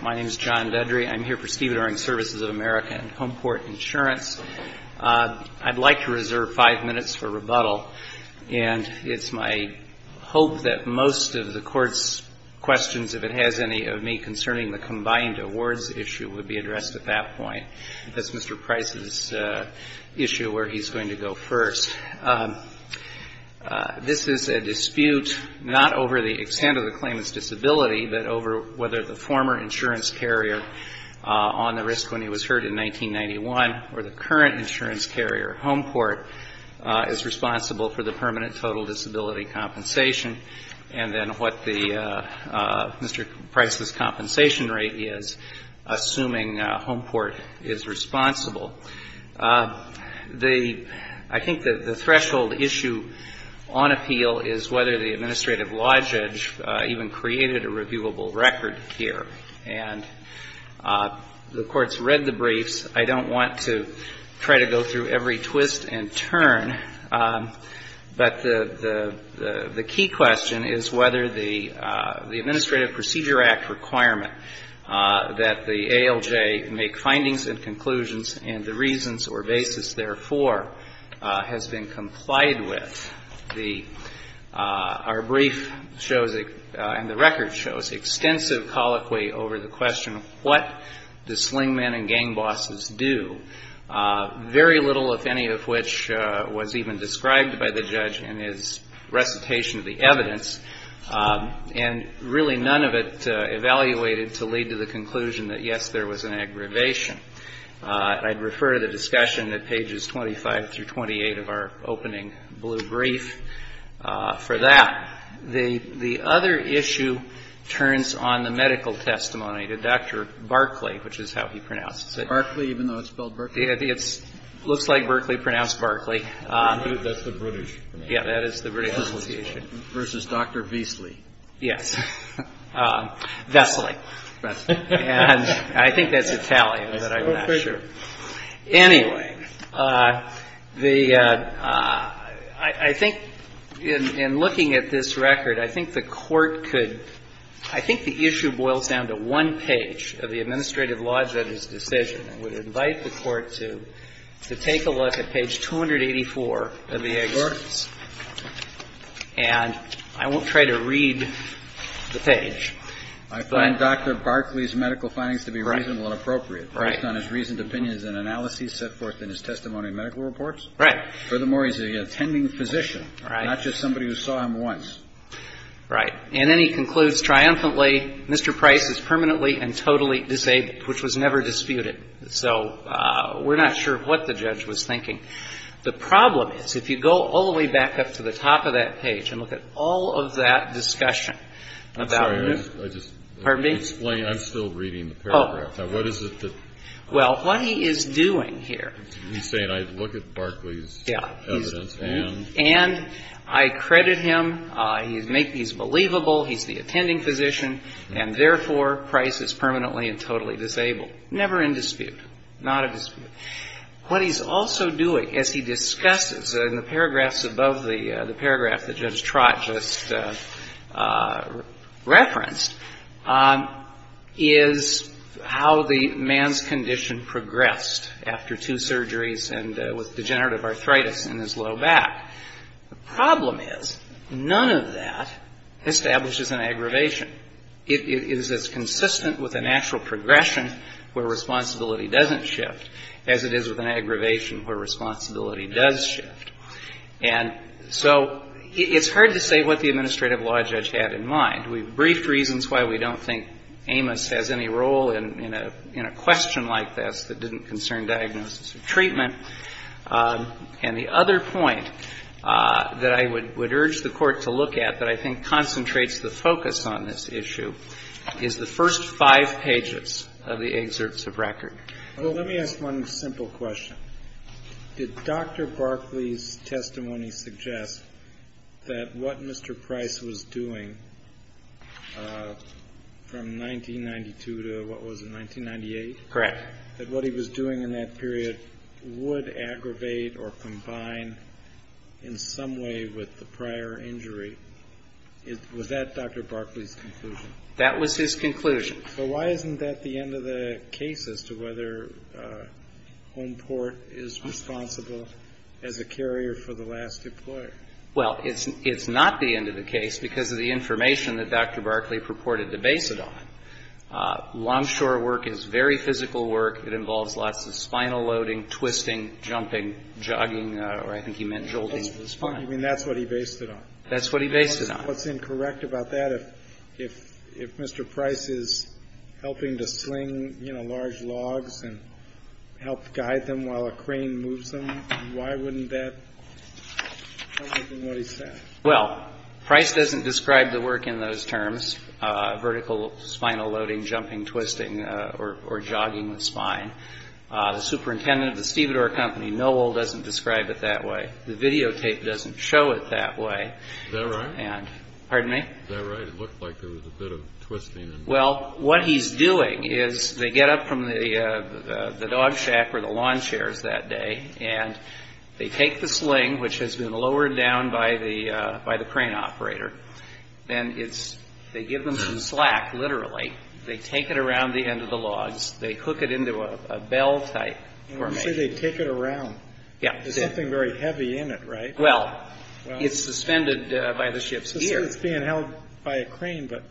My name is John Bedry. I'm here for Stevedoring Services of America and Homeport Insurance. I'd like to reserve five minutes for rebuttal, and it's my hope that most of the Court's questions, if it has any, of me concerning the combined awards issue would be addressed at that point. That's Mr. Price's issue where he's going to go first. This is a dispute not over the extent of the claimant's disability, but over whether the former insurance carrier on the risk when he was hurt in 1991 or the current insurance carrier, Homeport, is responsible for the permanent total disability compensation, and then what the Mr. Price's compensation rate is, assuming Homeport is responsible. I think the threshold issue on appeal is whether the administrative law judge even created a reviewable record here. And the Court's read the briefs. I don't want to try to go through every twist and turn, but the key question is whether the Administrative Procedure Act requirement that the ALJ make findings and conclusions and the reasons or basis therefore has been complied with. The — our brief shows — and the record shows extensive colloquy over the question of what do sling men and gang bosses do, very little, if any, of which was even described by the judge in his recitation of the evidence, and really none of it evaluated to lead to the conclusion that, yes, there was an aggravation. I'd refer to the discussion at pages 25 through 28 of our opening blue brief for that. The other issue turns on the medical testimony to Dr. Barclay, which is how he pronounces it. Kennedy. Barclay, even though it's spelled Berkley? Verrilli, Jr. It looks like Berkley pronounced Barclay. Kennedy. That's the British pronunciation. Verrilli, Jr. Yes, that is the British pronunciation. Kennedy. Versus Dr. Veasley. Verrilli, Jr. Yes. Vesley. And I think that's Italian, but I'm not sure. Anyway, the — I think in looking at this record, I think the Court could — I think the issue boils down to one page of the administrative law judge's decision. I would invite the Court to take a look at page 284 of the excerpts. And I won't try to read the page, but — Kennedy. I find Dr. Barclay's medical findings to be reasonable and appropriate based on his reasoned opinions and analyses set forth in his testimony and medical reports. Verrilli, Jr. Right. Kennedy. Furthermore, he's an attending physician, not just somebody who saw him once. Verrilli, Jr. Right. And then he concludes triumphantly, Mr. Price is permanently and totally disabled, which was never disputed. So we're not sure what the judge was thinking. The problem is, if you go all the way back up to the top of that page and look at all of that discussion about — Breyer. I'm sorry. I just — Verrilli, Jr. Pardon me? Breyer. I'm still reading the paragraph. Now, what is it that — Verrilli, Jr. Well, what he is doing here — Breyer. He's saying, I look at Barclay's — Verrilli, Jr. Yeah. Breyer. — evidence and — Verrilli, Jr. And I credit him. He's believable. He's the attending physician. And therefore, Price is permanently and totally disabled. Never in dispute. Not a dispute. What he's also doing, as he discusses in the paragraphs above the paragraph that Judge the man's condition progressed after two surgeries and with degenerative arthritis in his low back. The problem is, none of that establishes an aggravation. It is as consistent with a natural progression where responsibility doesn't shift as it is with an aggravation where responsibility does shift. And so it's hard to say what the administrative law judge had in mind. We've briefed Amos has any role in a question like this that didn't concern diagnosis or treatment. And the other point that I would urge the Court to look at that I think concentrates the focus on this issue is the first five pages of the excerpts of record. Breyer. Well, let me ask one simple question. Did Dr. Barclay's testimony suggest that what Mr. Price was doing from 1992 to what was it, 1998? Correct. That what he was doing in that period would aggravate or combine in some way with the prior injury? Was that Dr. Barclay's conclusion? That was his conclusion. So why isn't that the end of the case as to whether Homeport is responsible as a carrier for the last employer? Well, it's not the end of the case because of the information that Dr. Barclay purported to base it on. Longshore work is very physical work. It involves lots of spinal loading, twisting, jumping, jogging, or I think he meant jolting of the spine. I mean, that's what he based it on. That's what he based it on. What's incorrect about that, if Mr. Price is helping to sling, you know, large logs and help guide them while a crane moves them? Why wouldn't that be what he said? Well, Price doesn't describe the work in those terms, vertical spinal loading, jumping, twisting, or jogging the spine. The superintendent of the Stevedore Company, Noel, doesn't describe it that way. The videotape doesn't show it that way. Is that right? Pardon me? Is that right? It looked like there was a bit of twisting. Well, what he's doing is they get up from the dog shack or the lawn chairs that day and they take the sling, which has been lowered down by the crane operator, and they give them some slack, literally. They take it around the end of the logs. They hook it into a bell-type formation. You say they take it around. Yeah. There's something very heavy in it, right? Well, it's suspended by the ship's gear. It's being held by a crane, but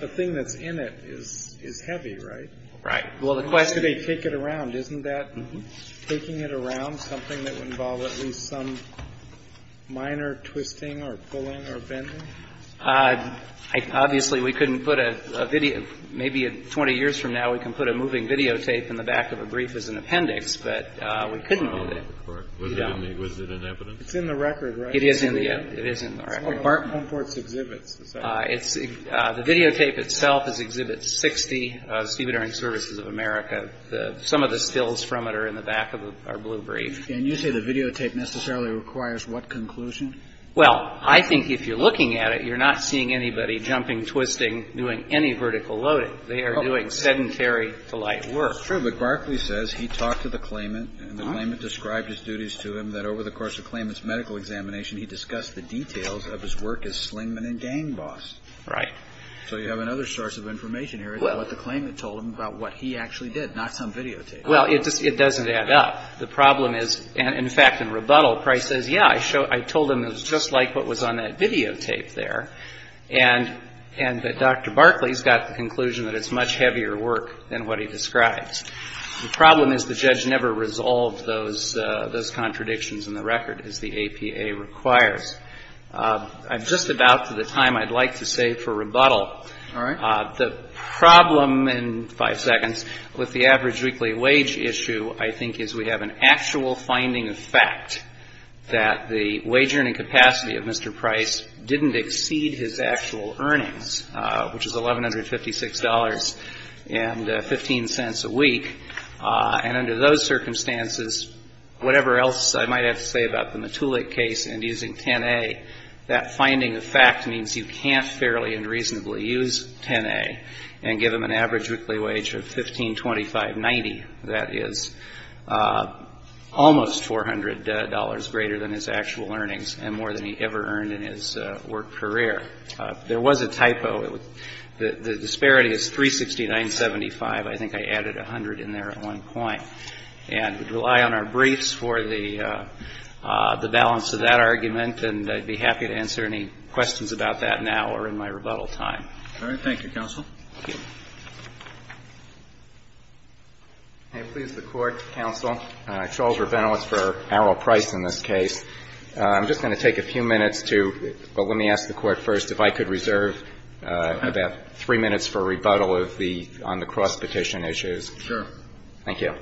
the thing that's in it is heavy, right? Right. Why do they take it around? Isn't that taking it around something that would involve at least some minor twisting or pulling or bending? Obviously, we couldn't put a video. Maybe 20 years from now, we can put a moving videotape in the back of a brief as an appendix, but we couldn't do that. Was it in evidence? It's in the record, right? It is in the record. The videotape itself is Exhibit 60, Stevedoring Services of America. Some of the stills from it are in the back of our blue brief. And you say the videotape necessarily requires what conclusion? Well, I think if you're looking at it, you're not seeing anybody jumping, twisting, doing any vertical loading. They are doing sedentary, polite work. It's true, but Barclay says he talked to the claimant, and the claimant described his duties to him that over the course of the claimant's medical examination, he discussed the details of his work as slingman and gang boss. Right. So you have another source of information here, what the claimant told him about what he actually did, not some videotape. Well, it doesn't add up. The problem is, in fact, in rebuttal, Price says, yeah, I told him it was just like what was on that videotape there, and that Dr. Barclay's got the conclusion that it's much heavier work than what he describes. The problem is the judge never resolved those contradictions in the record, as the APA requires. I'm just about to the time I'd like to save for rebuttal. All right. The problem, in five seconds, with the average weekly wage issue, I think, is we have an actual finding of fact that the wage earning capacity of Mr. Price didn't exceed his actual earnings, which is $1,156.15 a week. And under those circumstances, whatever else I might have to say about the Matulik case and using 10A, that finding of fact means you can't fairly and reasonably use 10A and give him an average weekly wage of $1,525.90. That is almost $400 greater than his actual earnings and more than he ever earned in his work career. There was a typo. The disparity is $369.75. I think I added $100 in there at one point. And we'd rely on our briefs for the balance of that argument, and I'd be happy to answer any questions about that now or in my rebuttal time. All right. Thank you, Counsel. Thank you. Can I please, the Court, counsel? Charles Revento. It's for Errol Price in this case. I'm just going to take a few minutes to — but let me ask the Court first if I could reserve about three minutes for rebuttal of the — on the cross-petition issues. Sure. Thank you.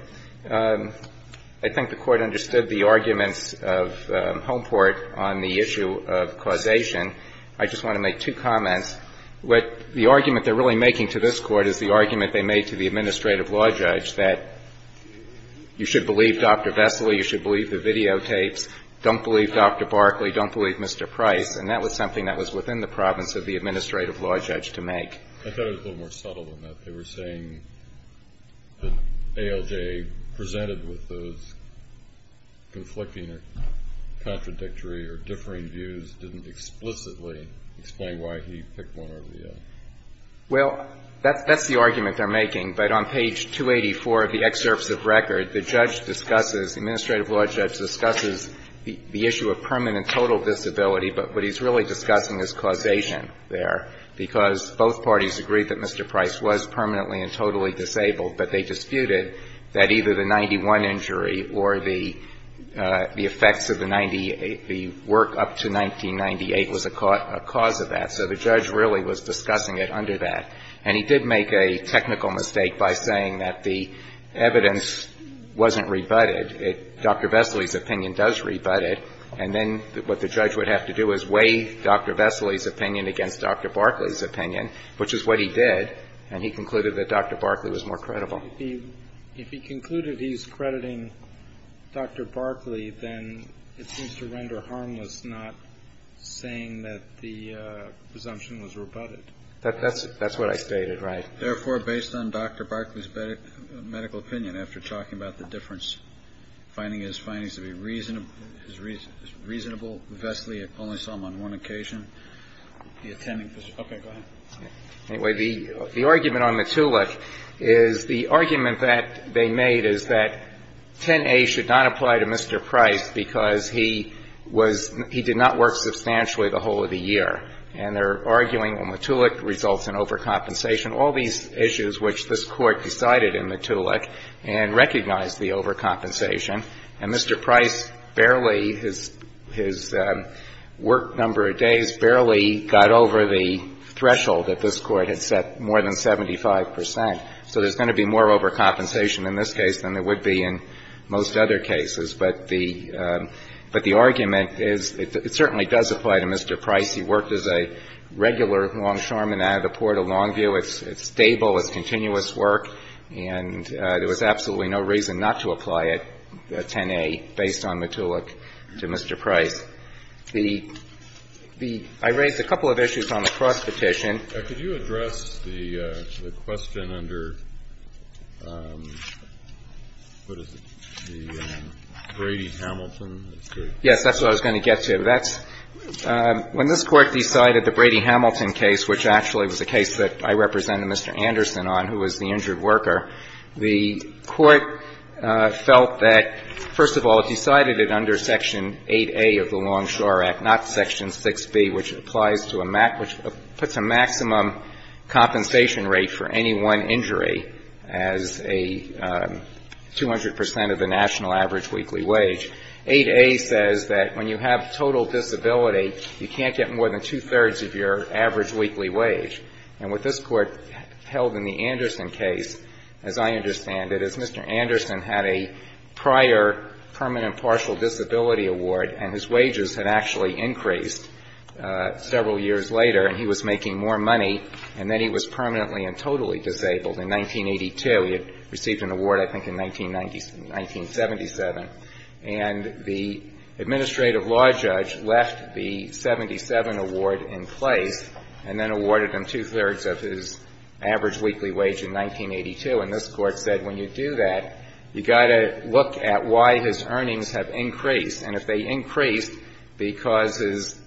I think the Court understood the arguments of Homeport on the issue of causation. I just want to make two comments. The argument they're really making to this Court is the argument they made to the administrative law judge that you should believe Dr. Vesely, you should believe the videotapes, don't believe Dr. Barkley, don't believe Mr. Price. And that was something that was within the province of the administrative law judge to make. I thought it was a little more subtle than that. They were saying that ALJ presented with those conflicting or contradictory or differing views, didn't explicitly explain why he picked one over the other. Well, that's the argument they're making. But on page 284 of the excerpts of record, the judge discusses, the administrative law judge discusses the issue of permanent total disability, but what he's really discussing is causation there, because both parties agreed that Mr. Price was permanently and totally disabled, but they disputed that either the 91 injury or the effects of the work up to 1998 was a cause of that. So the judge really was discussing it under that. And he did make a technical mistake by saying that the evidence wasn't rebutted. Dr. Vesely's opinion does rebut it. And then what the judge would have to do is weigh Dr. Vesely's opinion against Dr. Barkley's opinion, which is what he did, and he concluded that Dr. Barkley was more credible. If he concluded he's crediting Dr. Barkley, then it seems to render harmless not saying that the presumption was rebutted. That's what I stated, right. Therefore, based on Dr. Barkley's medical opinion, after talking about the difference, finding his findings to be reasonable, Vesely only saw him on one occasion. Okay, go ahead. Anyway, the argument on Mottulik is the argument that they made is that 10A should not apply to Mr. Price because he was he did not work substantially the whole of the year. And they're arguing Mottulik results in overcompensation, all these issues which this Court decided in Mottulik and recognized the overcompensation. And Mr. Price barely, his work number of days barely got over the threshold that this Court had set, more than 75 percent. So there's going to be more overcompensation in this case than there would be in most other cases. But the argument is it certainly does apply to Mr. Price. He worked as a regular longshoreman out of the Port of Longview. It's stable. It's continuous work. And there was absolutely no reason not to apply it, 10A, based on Mottulik to Mr. Price. I raised a couple of issues on the cross-petition. Kennedy. Could you address the question under, what is it, the Brady-Hamilton? Yes, that's what I was going to get to. That's when this Court decided the Brady-Hamilton case, which actually was a case that I represented Mr. Anderson on, who was the injured worker, the Court felt that, First of all, it decided it under Section 8A of the Longshore Act, not Section 6B, which applies to a maximum, which puts a maximum compensation rate for any one injury as a 200 percent of the national average weekly wage. 8A says that when you have total disability, you can't get more than two-thirds of your average weekly wage. And what this Court held in the Anderson case, as I understand it, is Mr. Anderson had a prior permanent partial disability award, and his wages had actually increased several years later, and he was making more money, and then he was permanently and totally disabled in 1982. He had received an award, I think, in 1997. And the administrative law judge left the 77 award in place and then awarded him two-thirds of his average weekly wage in 1982. And this Court said when you do that, you've got to look at why his earnings have increased. And if they increased because his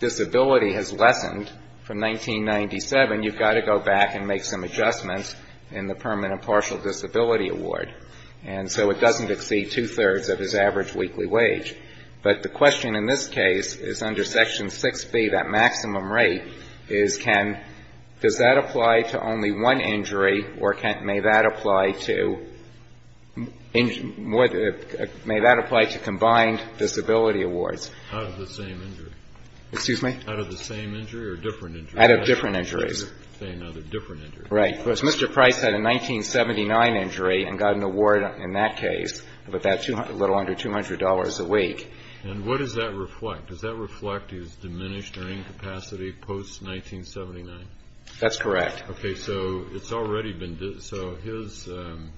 disability has lessened from 1997, you've got to go back and make some adjustments in the permanent partial disability award. And so it doesn't exceed two-thirds of his average weekly wage. But the question in this case is under Section 6B, that maximum rate, is can — does that apply to only one injury, or can — may that apply to — may that apply to combined disability awards? Out of the same injury. Excuse me? Out of the same injury or different injury? Out of different injuries. Say another. Different injuries. Right. Because Mr. Price had a 1979 injury and got an award in that case, but that's a little under $200 a week. And what does that reflect? Does that reflect his diminished earning capacity post-1979? That's correct. Okay. So it's already been — so his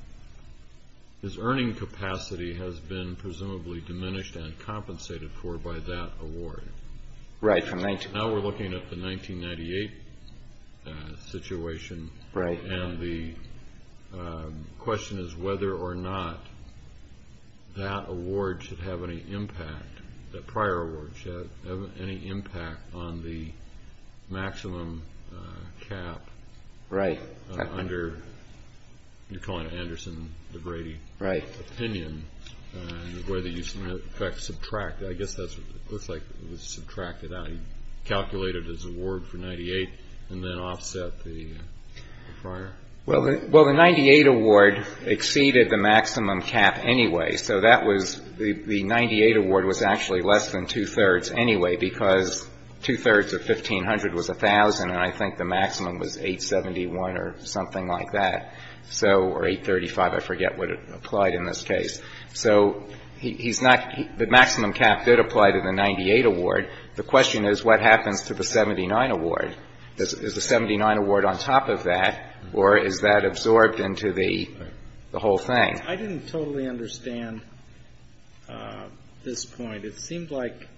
earning capacity has been presumably diminished and compensated for by that award. Right. Now we're looking at the 1998 situation. Right. And the question is whether or not that award should have any impact — that prior award should have any impact on the maximum cap — Right. — under — you're calling it Anderson-DeGrady — Right. — opinion, and whether you should, in effect, subtract. I guess that looks like it was subtracted out. He calculated his award for 98 and then offset the prior. Well, the 98 award exceeded the maximum cap anyway, so that was — the 98 award was actually less than two-thirds anyway because two-thirds of 1,500 was 1,000, and I think the maximum was 871 or something like that. So — or 835, I forget what it applied in this case. So he's not — the maximum cap did apply to the 98 award. The question is what happens to the 79 award? Is the 79 award on top of that, or is that absorbed into the whole thing? I didn't totally understand this point. It seemed like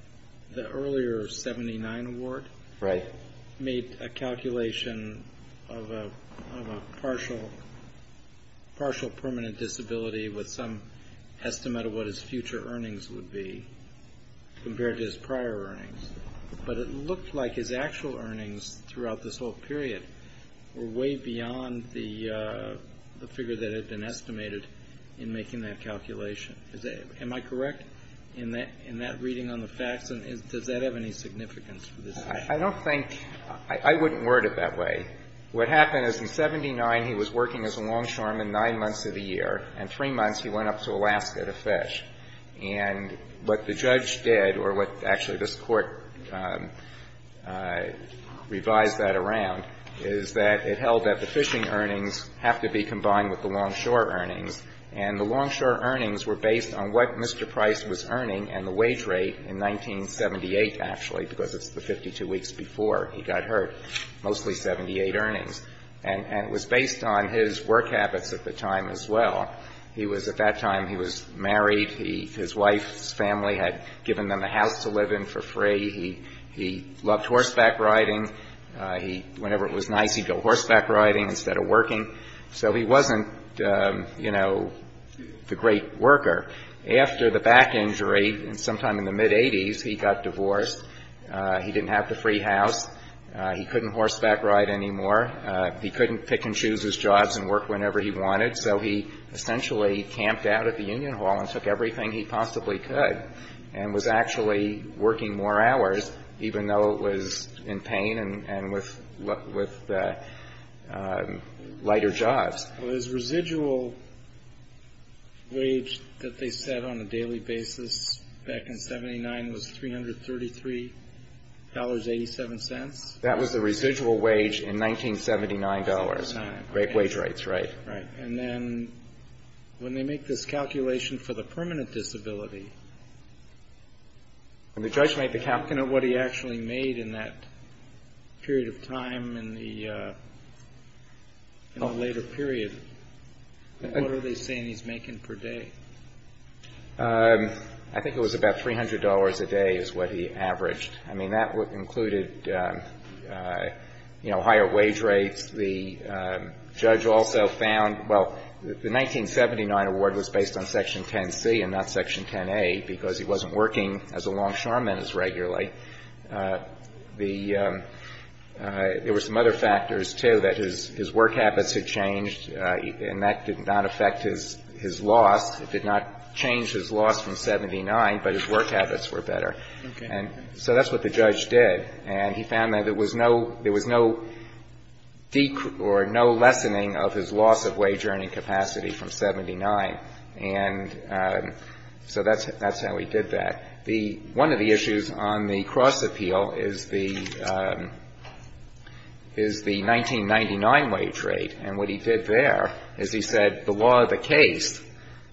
the earlier 79 award — Right. — made a calculation of a partial permanent disability with some estimate of what his future earnings would be compared to his prior earnings, but it looked like his actual earnings throughout this whole period were way beyond the figure that had been estimated in making that calculation. Am I correct in that reading on the facts? And does that have any significance for this case? I don't think — I wouldn't word it that way. What happened is in 79, he was working as a longshoreman nine months of the year, and three months he went up to Alaska to fish. And what the judge did, or what — actually, this Court revised that around, is that it held that the fishing earnings have to be combined with the longshore earnings, and the longshore earnings were based on what Mr. Price was earning and the wage rate in 1978, actually, because it's the 52 weeks before he got hurt, mostly 78 earnings. And it was based on his work habits at the time as well. He was — at that time, he was married. His wife's family had given them a house to live in for free. He loved horseback riding. Whenever it was nice, he'd go horseback riding instead of working. So he wasn't, you know, the great worker. After the back injury sometime in the mid-'80s, he got divorced. He didn't have the free house. He couldn't horseback ride anymore. He couldn't pick and choose his jobs and work whenever he wanted. So he essentially camped out at the union hall and took everything he possibly could and was actually working more hours, even though it was in pain and with lighter jobs. Well, his residual wage that they set on a daily basis back in 79 was $333.87. That was the residual wage in 1979 dollars. Great wage rates, right. Right. And then when they make this calculation for the permanent disability — When the judge made the calculation of what he actually made in that period of time in the later period, what are they saying he's making per day? I think it was about $300 a day is what he averaged. I mean, that included, you know, higher wage rates. The judge also found — well, the 1979 award was based on Section 10C and not Section 10A because he wasn't working as a longshoreman as regularly. There were some other factors, too, that his work habits had changed, and that did not affect his loss. It did not change his loss from 79, but his work habits were better. Okay. So that's what the judge did. And he found that there was no decrease or no lessening of his loss of wage earning capacity from 79. And so that's how he did that. One of the issues on the cross-appeal is the 1999 wage rate. And what he did there is he said the law of the case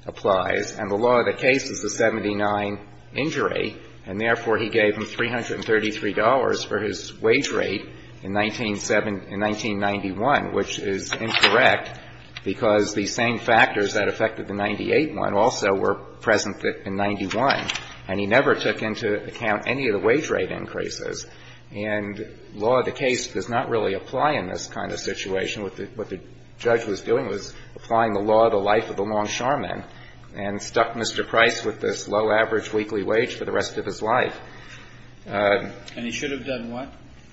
applies, and the law of the case is the 79 injury. And therefore, he gave him $333 for his wage rate in 1997 — in 1991, which is incorrect because the same factors that affected the 98 one also were present in 91. And he never took into account any of the wage rate increases. And law of the case does not really apply in this kind of situation. What the judge was doing was applying the law of the life of the longshoreman and stuck Mr. Price with this low average weekly wage for the rest of his life. And he should have done what?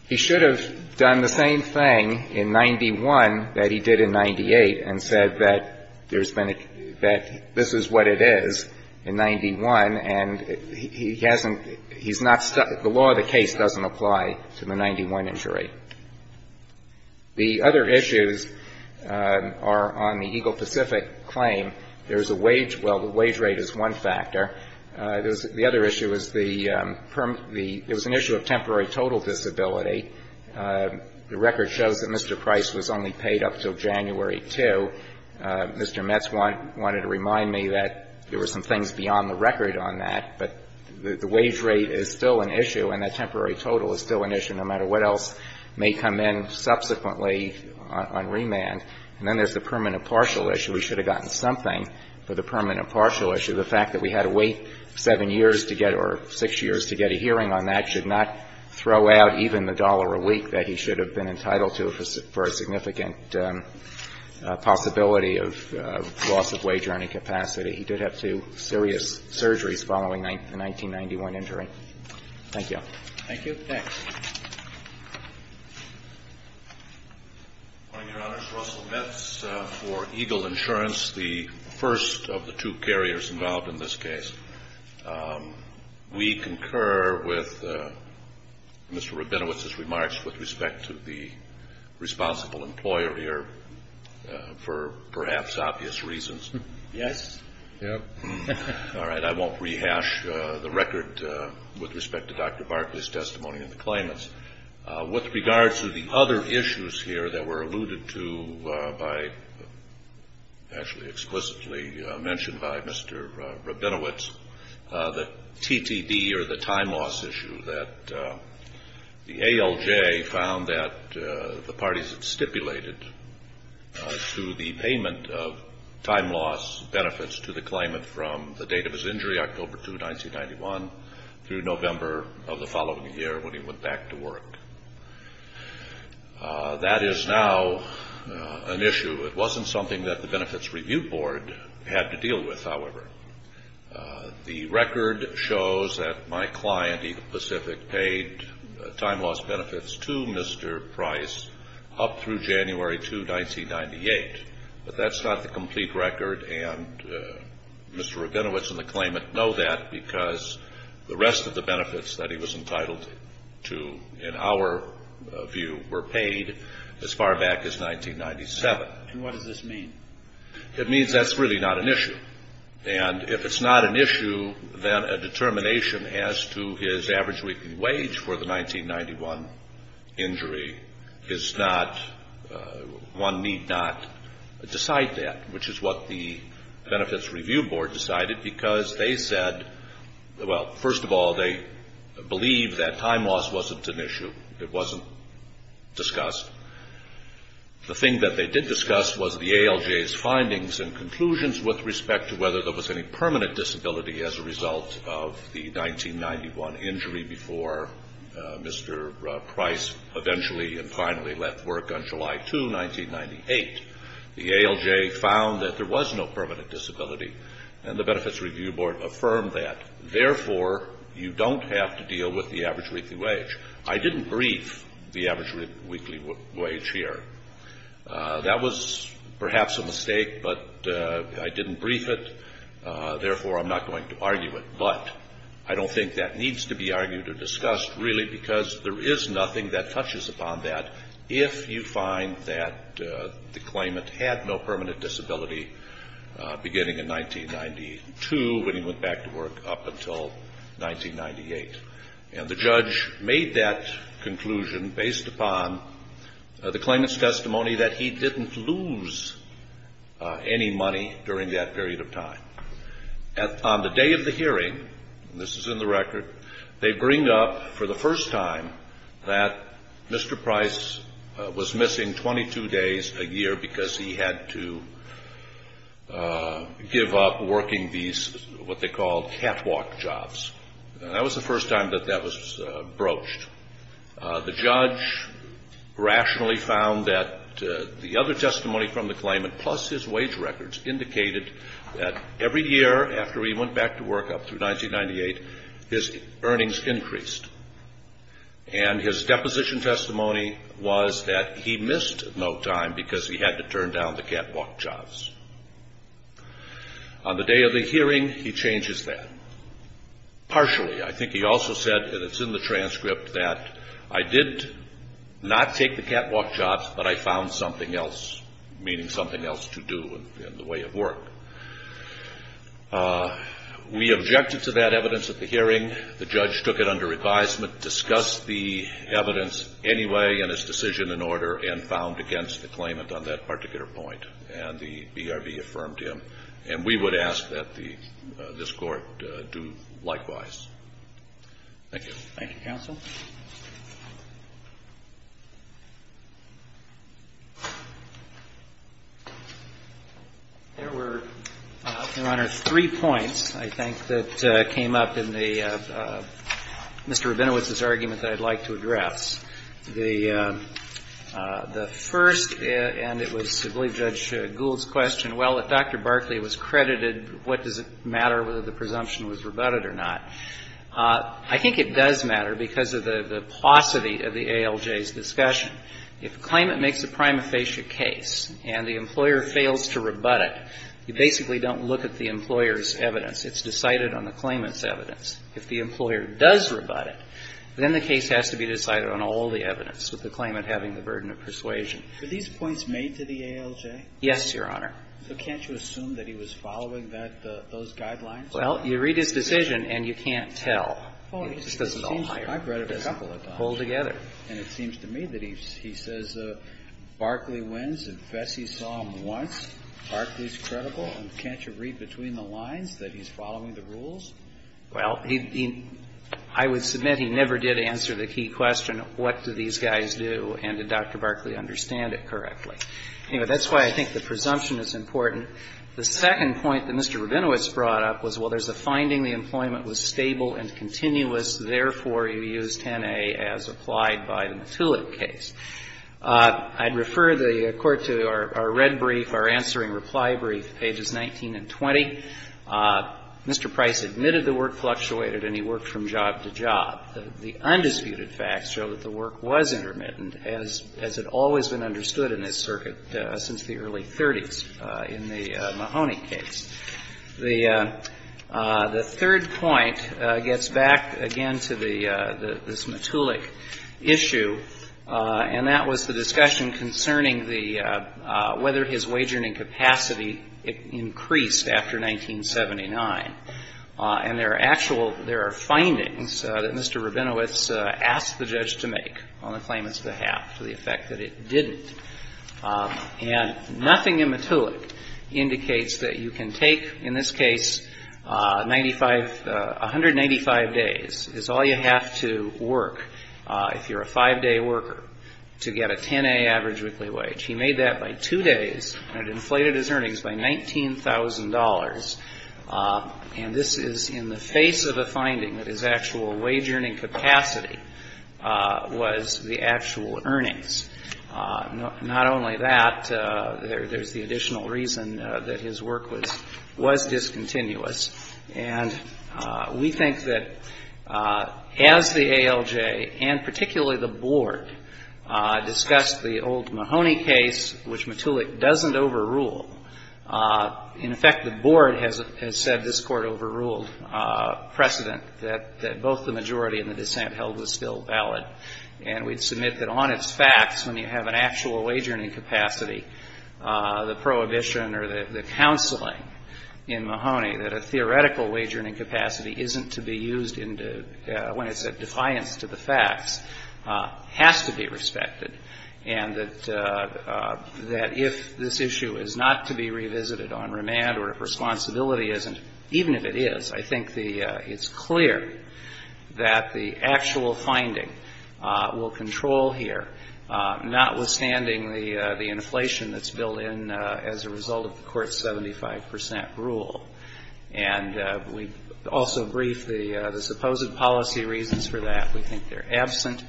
He should have done the same thing in 91 that he did in 98 and said that there's been a — that this is what it is in 91, and he hasn't — he's not — the law of the case doesn't apply to the 91 injury. The other issues are on the Eagle Pacific claim. There's a wage — well, the wage rate is one factor. The other issue is the — it was an issue of temporary total disability. The record shows that Mr. Price was only paid up until January 2. Mr. Metz wanted to remind me that there were some things beyond the record on that, but the wage rate is still an issue, and that temporary total is still an issue no matter what else may come in subsequently on remand. And then there's the permanent partial issue. We should have gotten something for the permanent partial issue. The fact that we had to wait 7 years to get — or 6 years to get a hearing on that should not throw out even the dollar a week that he should have been entitled to for a significant possibility of loss of wage or any capacity. He did have two serious surgeries following the 1991 injury. Thank you. Thank you. Thanks. Good morning, Your Honors. Russell Metz for Eagle Insurance, the first of the two carriers involved in this case. We concur with Mr. Rabinowitz's remarks with respect to the responsible employer here for perhaps obvious reasons. Yes. Yep. All right. I won't rehash the record with respect to Dr. Barclay's testimony and the claimants. With regard to the other issues here that were alluded to by — actually explicitly mentioned by Mr. Rabinowitz, the TTD or the time loss issue, that the ALJ found that the parties had stipulated to the payment of time loss benefits to the claimant from the date of his injury, October 2, 1991, through November of the following year when he went back to work. That is now an issue. It wasn't something that the Benefits Review Board had to deal with, however. The record shows that my client, Eagle Pacific, paid time loss benefits to Mr. Price up through January 2, 1998. But that's not the complete record, and Mr. Rabinowitz and the claimant know that because the rest of the benefits that he was entitled to, in our view, were paid as far back as 1997. And what does this mean? It means that's really not an issue. And if it's not an issue, then a determination as to his average weekly wage for the 1991 injury is not — one need not decide that, which is what the Benefits Review Board decided because they said — well, first of all, they believed that time loss wasn't an issue. It wasn't discussed. The thing that they did discuss was the ALJ's findings and conclusions with respect to whether there was any permanent disability as a result of the 1991 injury before Mr. Price eventually and finally left work on July 2, 1998. The ALJ found that there was no permanent disability, and the Benefits Review Board affirmed that. Therefore, you don't have to deal with the average weekly wage. I didn't brief the average weekly wage here. That was perhaps a mistake, but I didn't brief it. Therefore, I'm not going to argue it. But I don't think that needs to be argued or discussed, really, because there is nothing that touches upon that. if you find that the claimant had no permanent disability beginning in 1992 when he went back to work up until 1998. And the judge made that conclusion based upon the claimant's testimony that he didn't lose any money during that period of time. On the day of the hearing, and this is in the record, they bring up for the first time that Mr. Price was missing 22 days a year because he had to give up working these what they called catwalk jobs. That was the first time that that was broached. The judge rationally found that the other testimony from the claimant, plus his wage records, indicated that every year after he went back to work up through 1998, his earnings increased. And his deposition testimony was that he missed no time because he had to turn down the catwalk jobs. On the day of the hearing, he changes that. Partially. I think he also said, and it's in the transcript, that I did not take the catwalk jobs, but I found something else, meaning something else to do in the way of work. We objected to that evidence at the hearing. The judge took it under advisement, discussed the evidence anyway and his decision in order, and found against the claimant on that particular point. And the BRB affirmed him. And we would ask that this Court do likewise. Thank you. Thank you, counsel. There were, Your Honor, three points, I think, that came up in the Mr. Rabinowitz's argument that I'd like to address. The first, and it was, I believe, Judge Gould's question, well, if Dr. Barkley was credited, what does it matter whether the presumption was rebutted or not? Well, the first thing is, it's a matter of the pros and cons of the claimant's decision. If the claimant makes a prima facie case and the employer fails to rebut it, you basically don't look at the employer's evidence. It's decided on the claimant's evidence. If the employer does rebut it, then the case has to be decided on all the evidence with the claimant having the burden of persuasion. Were these points made to the ALJ? Yes, Your Honor. So can't you assume that he was following that, those guidelines? Well, you read his decision, and you can't tell. It's all higher. I've read it a couple of times. Pulled together. And it seems to me that he says Barkley wins, and Bessie saw him once. Barkley's credible. And can't you read between the lines that he's following the rules? Well, I would submit he never did answer the key question, what do these guys do, and did Dr. Barkley understand it correctly? Anyway, that's why I think the presumption is important. The second point that Mr. Rabinowitz brought up was, well, there's a finding, the employment was stable and continuous, therefore, you use 10A as applied by the Matulak case. I'd refer the Court to our red brief, our answering reply brief, pages 19 and 20. Mr. Price admitted the work fluctuated, and he worked from job to job. The undisputed facts show that the work was intermittent, as had always been understood in this circuit since the early 30s in the Mahoney case. The third point gets back again to the, this Matulak issue, and that was the discussion concerning the, whether his wagering capacity increased after 1979. And there are actual, there are findings that Mr. Rabinowitz asked the judge to make on the claimant's behalf, to the effect that it didn't. And nothing in Matulak indicates that you can take, in this case, 95, 195 days, is all you have to work, if you're a five-day worker, to get a 10A average weekly wage. He made that by two days, and it inflated his earnings by $19,000. And this is in the face of a finding that his actual wage earning capacity was the actual earnings. Not only that, there's the additional reason that his work was discontinuous. And we think that as the ALJ, and particularly the Board, discussed the old Mahoney case, which Matulak doesn't overrule. In effect, the Board has said this Court overruled precedent that both the majority and the dissent held was still valid. And we'd submit that on its facts, when you have an actual wage earning capacity, the prohibition or the counseling in Mahoney, that a theoretical wage earning capacity isn't to be used when it's a defiance to the facts, has to be respected. And that if this issue is not to be revisited on remand, or if responsibility isn't, even if it is, I think it's clear that the actual finding will control here, notwithstanding the inflation that's built in as a result of the Court's 75 percent rule. And we also briefed the supposed policy reasons for that. We think they're absent.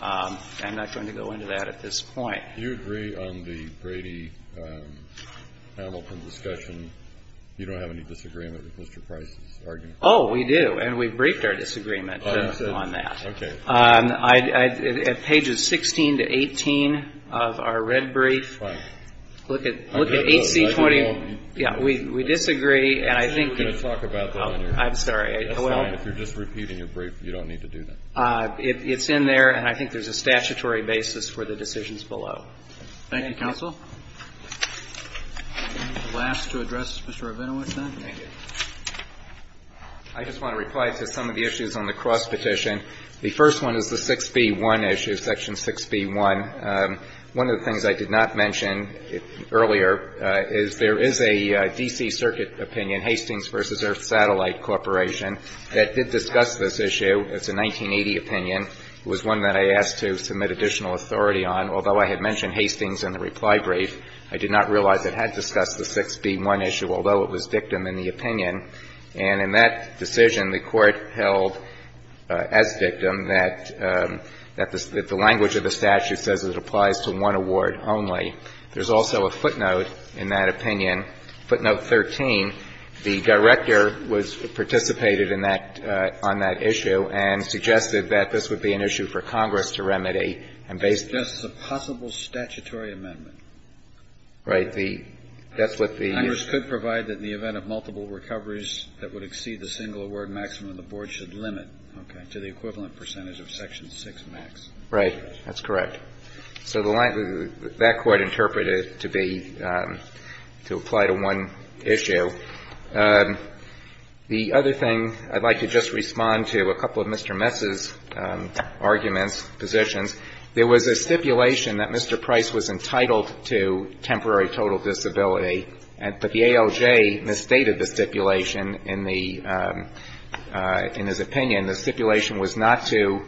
I'm not going to go into that at this point. Do you agree on the Brady-Hamilton discussion, you don't have any disagreement with Mr. Price's argument? Oh, we do. And we briefed our disagreement on that. Okay. At pages 16 to 18 of our red brief, look at 8C20. Yeah. We disagree. And I think we're going to talk about that later. I'm sorry. That's fine. If you're just repeating your brief, you don't need to do that. It's in there. And I think there's a statutory basis for the decisions below. Thank you, counsel. Last to address Mr. Ovenewitz, then. Thank you. I just want to reply to some of the issues on the cross petition. The first one is the 6B1 issue, Section 6B1. One of the things I did not mention earlier is there is a D.C. Circuit opinion, Hastings v. Earth Satellite Corporation, that did discuss this issue. It's a 1980 opinion. It was one that I asked to submit additional authority on. Although I had mentioned Hastings in the reply brief, I did not realize it had discussed the 6B1 issue, although it was dictum in the opinion. And in that decision, the Court held as dictum that the language of the statute says it applies to one award only. There's also a footnote in that opinion, footnote 13. The Director participated in that, on that issue, and suggested that this would be an issue for Congress to remedy. It's just a possible statutory amendment. Right. That's what the issue is. It said that in the event of multiple recoveries that would exceed the single award maximum, the Board should limit to the equivalent percentage of Section 6 max. Right. That's correct. So that Court interpreted it to be, to apply to one issue. The other thing, I'd like to just respond to a couple of Mr. Mess's arguments, positions. There was a stipulation that Mr. Price was entitled to temporary total disability, but the ALJ misstated the stipulation in the, in his opinion. The stipulation was not to,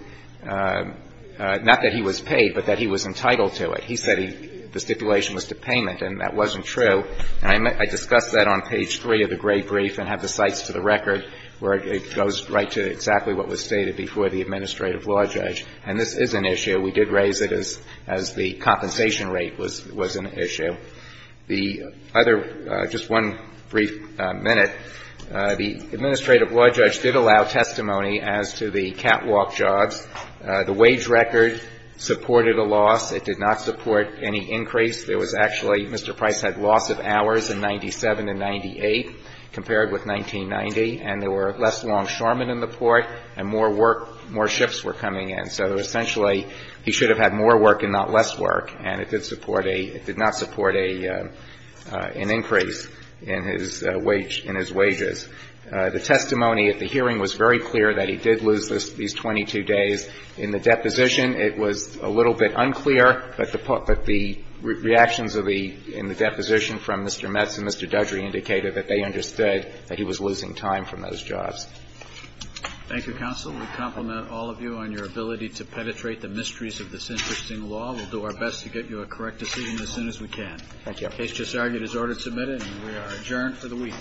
not that he was paid, but that he was entitled to it. He said the stipulation was to payment, and that wasn't true. And I discussed that on page 3 of the gray brief and have the cites to the record where it goes right to exactly what was stated before the administrative law judge. And this is an issue. We did raise it as the compensation rate was an issue. The other, just one brief minute, the administrative law judge did allow testimony as to the catwalk jobs. The wage record supported a loss. It did not support any increase. There was actually, Mr. Price had loss of hours in 97 and 98 compared with 1990, and there were less longshoremen in the port, and more work, more ships were coming in. So essentially, he should have had more work and not less work, and it did support a, an increase in his wage, in his wages. The testimony at the hearing was very clear that he did lose these 22 days. In the deposition, it was a little bit unclear, but the reactions of the, in the deposition from Mr. Metz and Mr. Dudry indicated that they understood that he was losing time from those jobs. Roberts. Thank you, counsel. We compliment all of you on your ability to penetrate the mysteries of this interesting law. We'll do our best to get you a correct decision as soon as we can. Thank you. Case just argued is order submitted, and we are adjourned for the week.